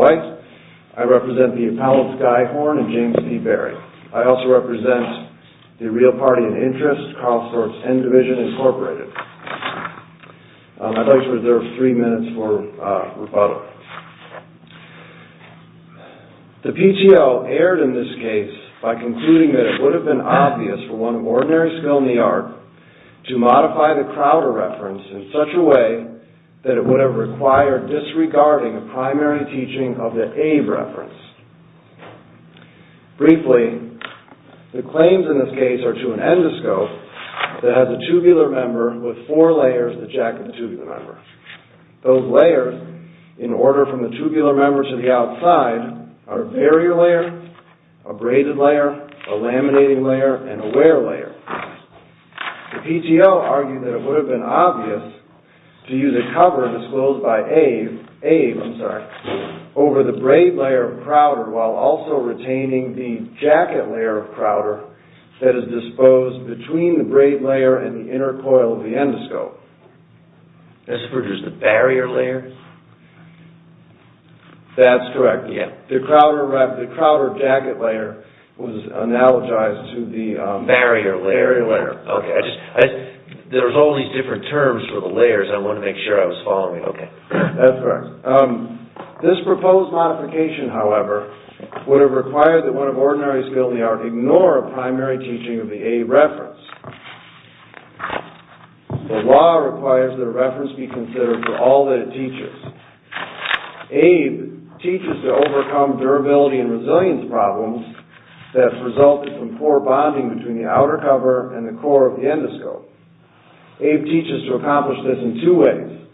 I represent the Appellate Guy Horne and James P. Berry. I also represent the Real Party and Interest, Carlsford's N Division, Inc. The PTO erred in this case by concluding that it would have been obvious for one of ordinary skill in the art to modify the Crowder Reference in such a way that it would have required disregarding a primary teaching of the Abe Reference. Briefly, the claims in this case are to an endoscope that has a tubular member with four layers that jacket the tubular member. Those layers, in order from the tubular member to the outside, are a barrier layer, a braided layer, a laminating layer, and a wear layer. The PTO argued that it would have been obvious to use a cover disclosed by Abe over the braid layer of Crowder while also retaining the jacket layer of Crowder that is disposed between the braid layer and the inner coil of the endoscope. This is for just the barrier layer? That's correct. The Crowder jacket layer was analogized to the barrier layer. There's all these different terms for the layers. I want to make sure I was following. That's correct. This proposed modification, however, would have required that one of ordinary skill in the art ignore a primary teaching of the Abe Reference. The law requires that a reference be considered for all that it teaches. Abe teaches to overcome durability and resilience problems that have resulted from poor bonding between the outer cover and the core of the endoscope. Abe teaches to accomplish this in two ways.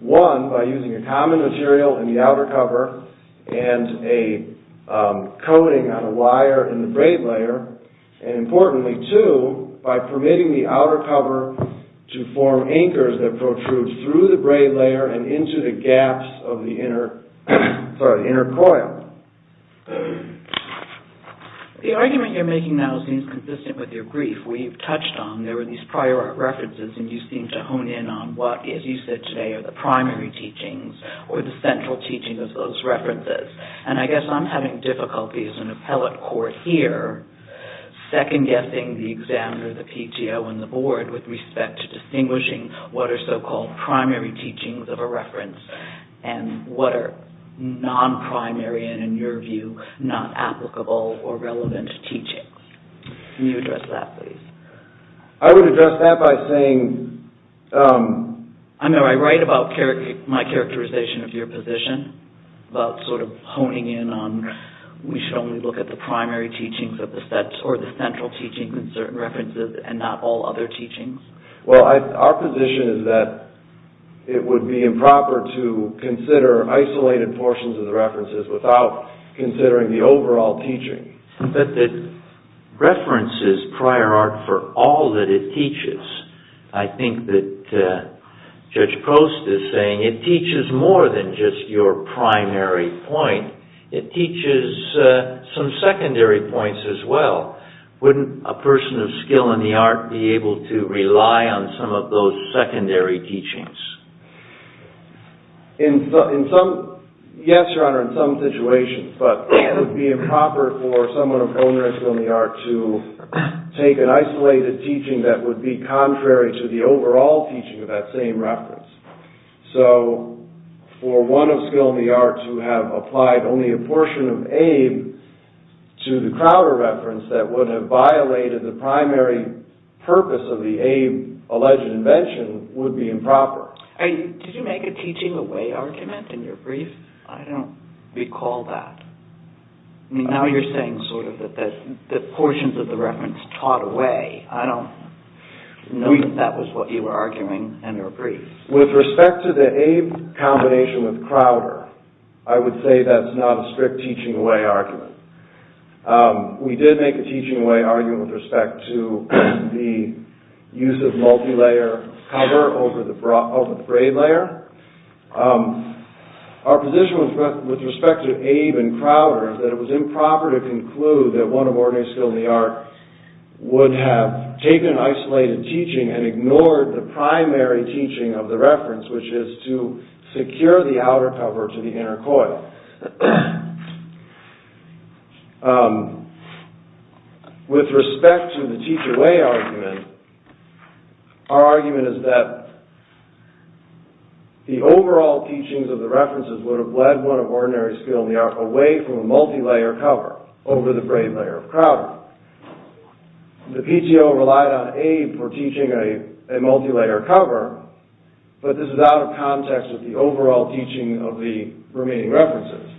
One, by using a common material in the outer cover and a coating on a wire in the braid layer, and importantly, two, by permitting the outer cover to form anchors that protrude through the braid layer and into the gaps of the inner coil. The argument you're making now seems consistent with your brief. If we've touched on, there were these prior art references, and you seem to hone in on what, as you said today, are the primary teachings or the central teachings of those references. I guess I'm having difficulty as an appellate court here second-guessing the examiner, the PTO, and the board with respect to distinguishing what are so-called primary teachings of a reference and what are non-primary and, in your view, not applicable or relevant teachings. Can you address that, please? I would address that by saying... I know I write about my characterization of your position, about sort of honing in on we should only look at the primary teachings or the central teachings in certain references and not all other teachings. Well, our position is that it would be improper to consider isolated portions of the references without considering the overall teaching. But the reference is prior art for all that it teaches. I think that Judge Prost is saying it teaches more than just your primary point. It teaches some secondary points as well. Wouldn't a person of skill in the art be able to rely on some of those secondary teachings? In some... Yes, Your Honor, in some situations. But it would be improper for someone of own skill in the art to take an isolated teaching that would be contrary to the overall teaching of that same reference. So, for one of skill in the art to have applied only a portion of Abe to the Crowder reference that would have violated the primary purpose of the Abe-alleged invention would be improper. Did you make a teaching away argument in your brief? I don't recall that. Now you're saying sort of that portions of the reference taught away. I don't know if that was what you were arguing in your brief. With respect to the Abe combination with Crowder, I would say that's not a strict teaching away argument. We did make a teaching away argument with respect to the use of multi-layer cover over the braid layer. Our position with respect to Abe and Crowder is that it was improper to conclude that one of ordinary skill in the art would have taken an isolated teaching and ignored the primary teaching of the reference, which is to secure the outer cover to the inner coil. With respect to the teach away argument, our argument is that the overall teachings of the references would have led one of ordinary skill in the art away from a multi-layer cover over the braid layer of Crowder. The PTO relied on Abe for teaching a multi-layer cover, but this is out of context with the overall teaching of the remaining references.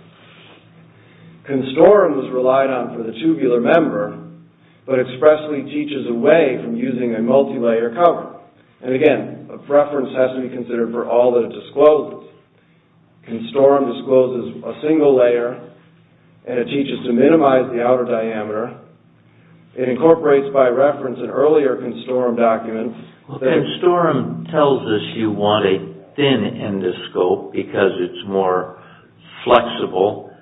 Constorum was relied on for the tubular member, but expressly teaches away from using a multi-layer cover. And again, a reference has to be considered for all that it discloses. Constorum discloses a single layer, and it teaches to minimize the outer diameter. It incorporates by reference an earlier Constorum document. Well, Constorum tells us you want a thin endoscope because it's more flexible,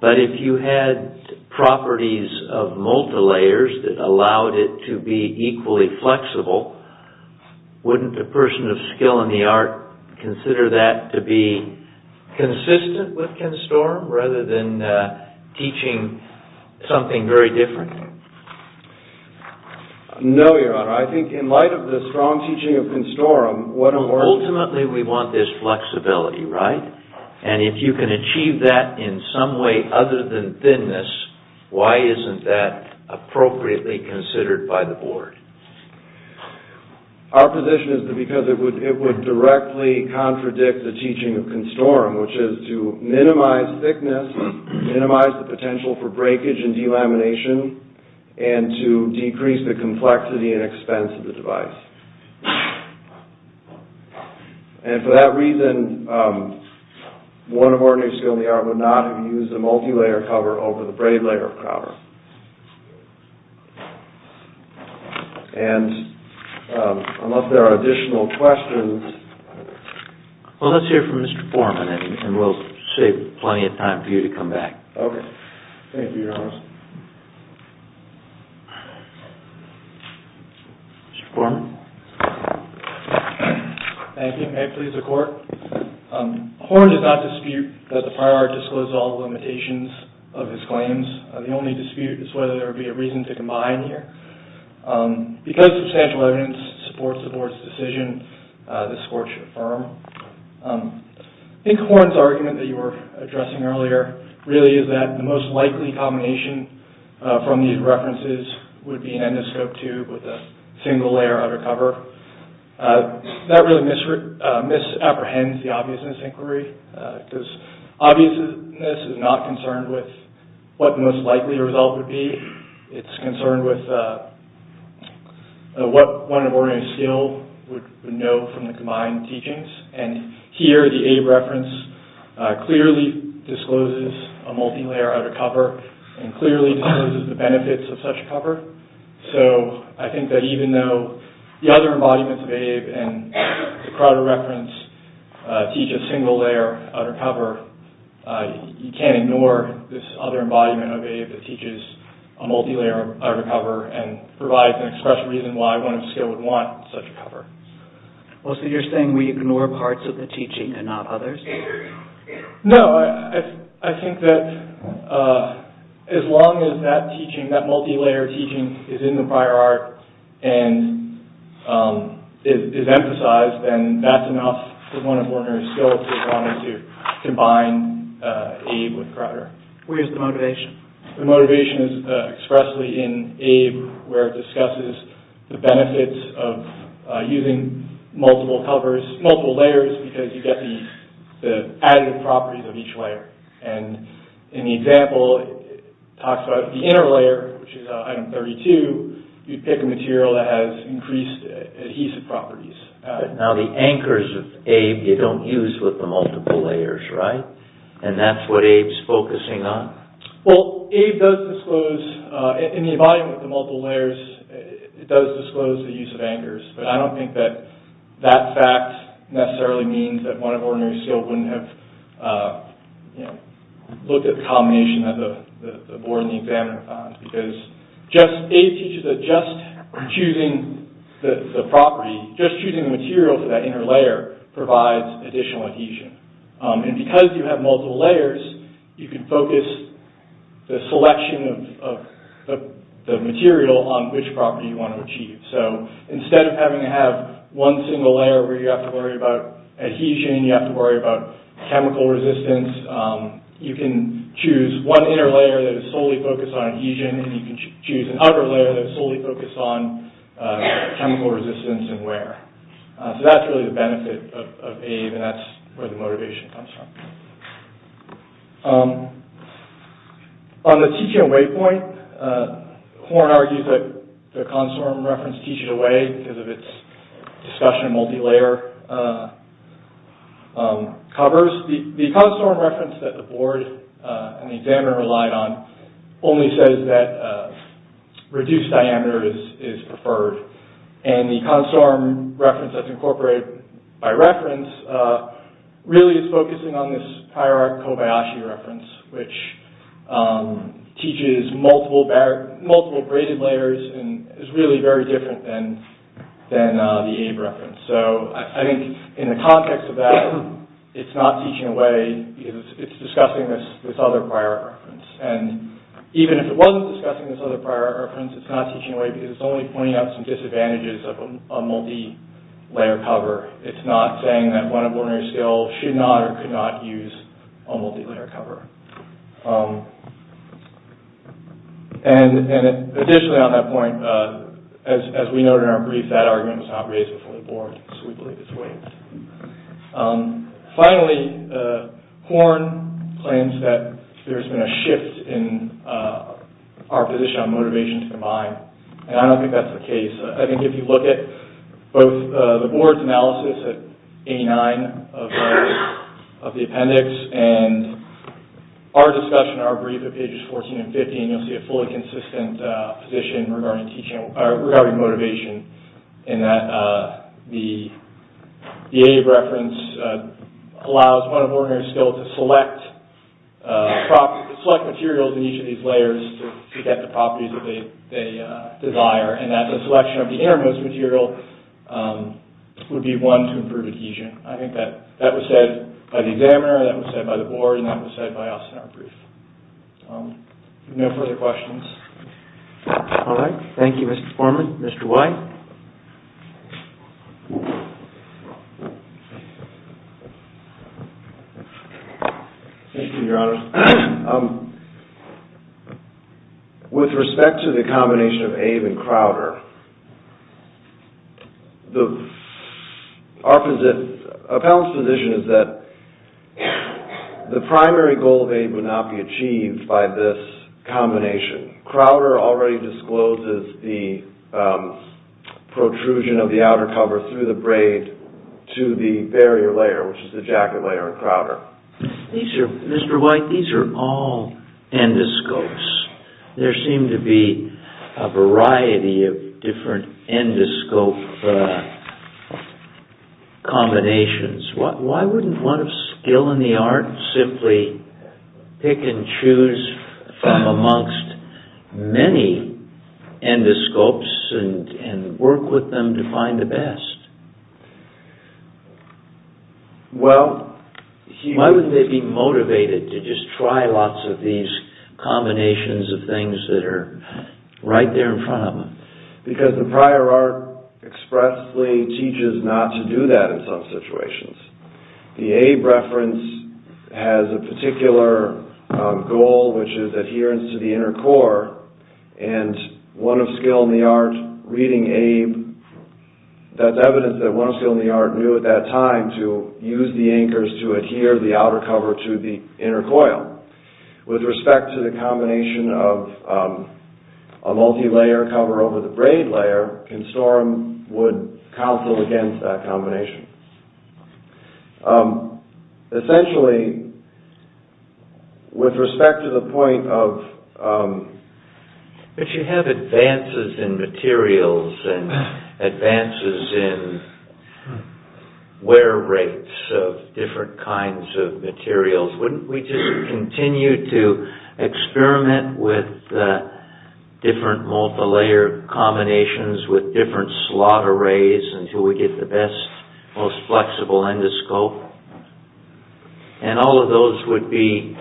but if you had properties of multi-layers that allowed it to be equally flexible, wouldn't a person of skill in the art consider that to be consistent with Constorum rather than teaching something very different? No, your honor. I think in light of the strong teaching of Constorum, ultimately we want this flexibility, right? And if you can achieve that in some way other than thinness, why isn't that appropriately considered by the board? Our position is that because it would directly contradict the teaching of Constorum, which is to minimize thickness, minimize the potential for breakage and delamination, and to decrease the complexity and expense of the device. And for that reason, one of our new skill in the art would not have used a multi-layer cover over the braid layer cover. And unless there are additional questions... Well, let's hear from Mr. Foreman and we'll save plenty of time for you to come back. Okay. Thank you, your honor. Mr. Foreman? Thank you. May it please the court? Horne does not dispute that the prior art disclosed all the limitations of his claims. The only dispute is whether there would be a reason to combine here. Because substantial evidence supports the board's decision, this court should affirm. I think Horne's argument that you were addressing earlier really is that the most likely combination from these references would be an endoscope tube with a single layer under cover. That really misapprehends the obviousness inquiry because obviousness is not concerned with what the most likely result would be. It's concerned with what one of Horne's skill would know from the combined teachings. And here, the Abe reference clearly discloses a multi-layer under cover and clearly discloses the benefits of such cover. So, I think that even though the other embodiments of Abe and the Crowder reference teach a single layer under cover, you can't ignore this other embodiment of Abe that teaches a multi-layer under cover and provides an express reason why one of his skill would want such a cover. Well, so you're saying we ignore parts of the teaching and not others? No, I think that as long as that teaching, that multi-layer teaching is in the prior art and is emphasized, then that's enough for one of Horne's skills to combine Abe with Crowder. Where's the motivation? The motivation is expressly in Abe where it discusses the benefits of using multiple layers because you get the additive properties of each layer. And in the example, it talks about the inner layer, which is item 32, you pick a material that has increased adhesive properties. Now, the anchors of Abe, you don't use with the multiple layers, right? And that's what Abe's focusing on? Well, Abe does disclose, in the embodiment of the multiple layers, it does disclose the use of anchors, but I don't think that that fact necessarily means that one of Horne's skills wouldn't have looked at the combination that the board and the examiner found because Abe teaches that just choosing the property, just choosing the material for that inner layer, provides additional adhesion. And because you have multiple layers, you can focus the selection of the material on which property you want to achieve. So, instead of having to have one single layer where you have to worry about adhesion, you have to worry about chemical resistance, you can choose one inner layer that is solely focused on adhesion and you can choose an outer layer that is solely focused on chemical resistance and wear. So, that's really the benefit of Abe and that's where the motivation comes from. On the teaching away point, Horne argues that the Consorum reference teaches away because of its discussion of multi-layer covers. The Consorum reference that the board and the examiner relied on only says that reduced diameter is preferred and the Consorum reference that's incorporated by reference really is focusing on this higher arc Kobayashi reference which teaches multiple braided layers and is really very different than the Abe reference. So, I think in the context of that, it's not teaching away because it's discussing this other prior reference. And even if it wasn't discussing this other prior reference, it's not teaching away because it's only pointing out some disadvantages of a multi-layer cover. It's not saying that one of ordinary skills should not or could not use a multi-layer cover. And additionally on that point, as we noted in our brief, so we believe it's a waive. Finally, Horne claims that there's been a shift in our position on motivation to combine. And I don't think that's the case. I think if you look at both the board's analysis at 89 of the appendix and our discussion, our brief at pages 14 and 15, you'll see a fully consistent position regarding motivation and that the Abe reference allows one of ordinary skills to select materials in each of these layers to get the properties that they desire and that the selection of the innermost material would be one to improve adhesion. I think that was said by the examiner, that was said by the board, and that was said by us in our brief. No further questions. All right. Thank you, Mr. Foreman. Mr. White? Thank you, Your Honor. With respect to the combination of Abe and Crowder, the opposite appellant's position is that the primary goal of Abe would not be achieved by this combination. Crowder already discloses the protrusion of the outer cover through the braid to the barrier layer, which is the jacket layer in Crowder. Mr. White, these are all endoscopes. There seem to be a variety of different endoscope combinations. Why wouldn't one of skill in the art simply pick and choose from amongst many endoscopes and work with them to find the best? Why wouldn't they be motivated to just try lots of these combinations of things that are right there in front of them? Because the prior art expressly teaches not to do that in some situations. The Abe reference has a particular goal which is adherence to the inner core, and one of skill in the art reading Abe, that's evidence that one of skill in the art knew at that time to use the anchors to adhere the outer cover to the inner coil. With respect to the combination of a multi-layer cover over the braid layer, Constorum would counsel against that combination. But you have advances in materials and advances in wear rates of different kinds of materials. Wouldn't we just continue to experiment with different multi-layer combinations with different slot arrays until we get the best, most flexible endoscope? And all of those would be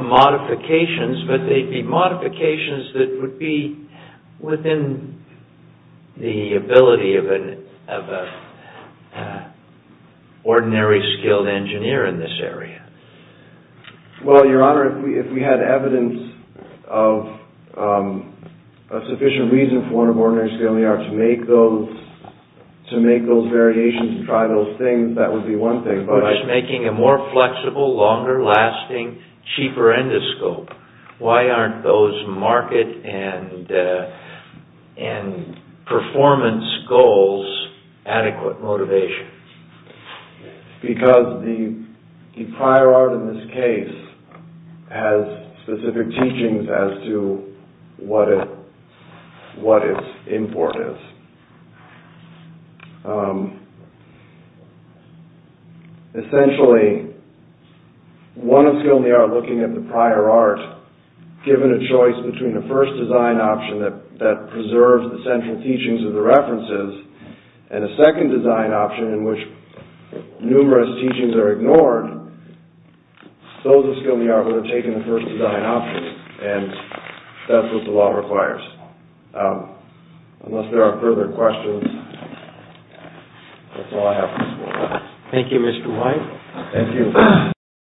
modifications, but they'd be modifications that would be within the ability of an ordinary skilled engineer in this area. Well, Your Honor, if we had evidence of a sufficient reason for one of ordinary skilled engineers to make those variations and try those things, that would be one thing. By making a more flexible, longer lasting, cheaper endoscope, why aren't those market and performance goals adequate motivation? Because the prior art in this case has specific teachings as to what its import is. Essentially, one of skilled engineers looking at the prior art, given a choice between a first design option that preserves the central teachings of the references, and a second design option in which numerous teachings are ignored, those of skilled engineers would have taken the first design option, and that's what the law requires. Unless there are further questions, that's all I have for this morning. Thank you, Mr. White. Thank you.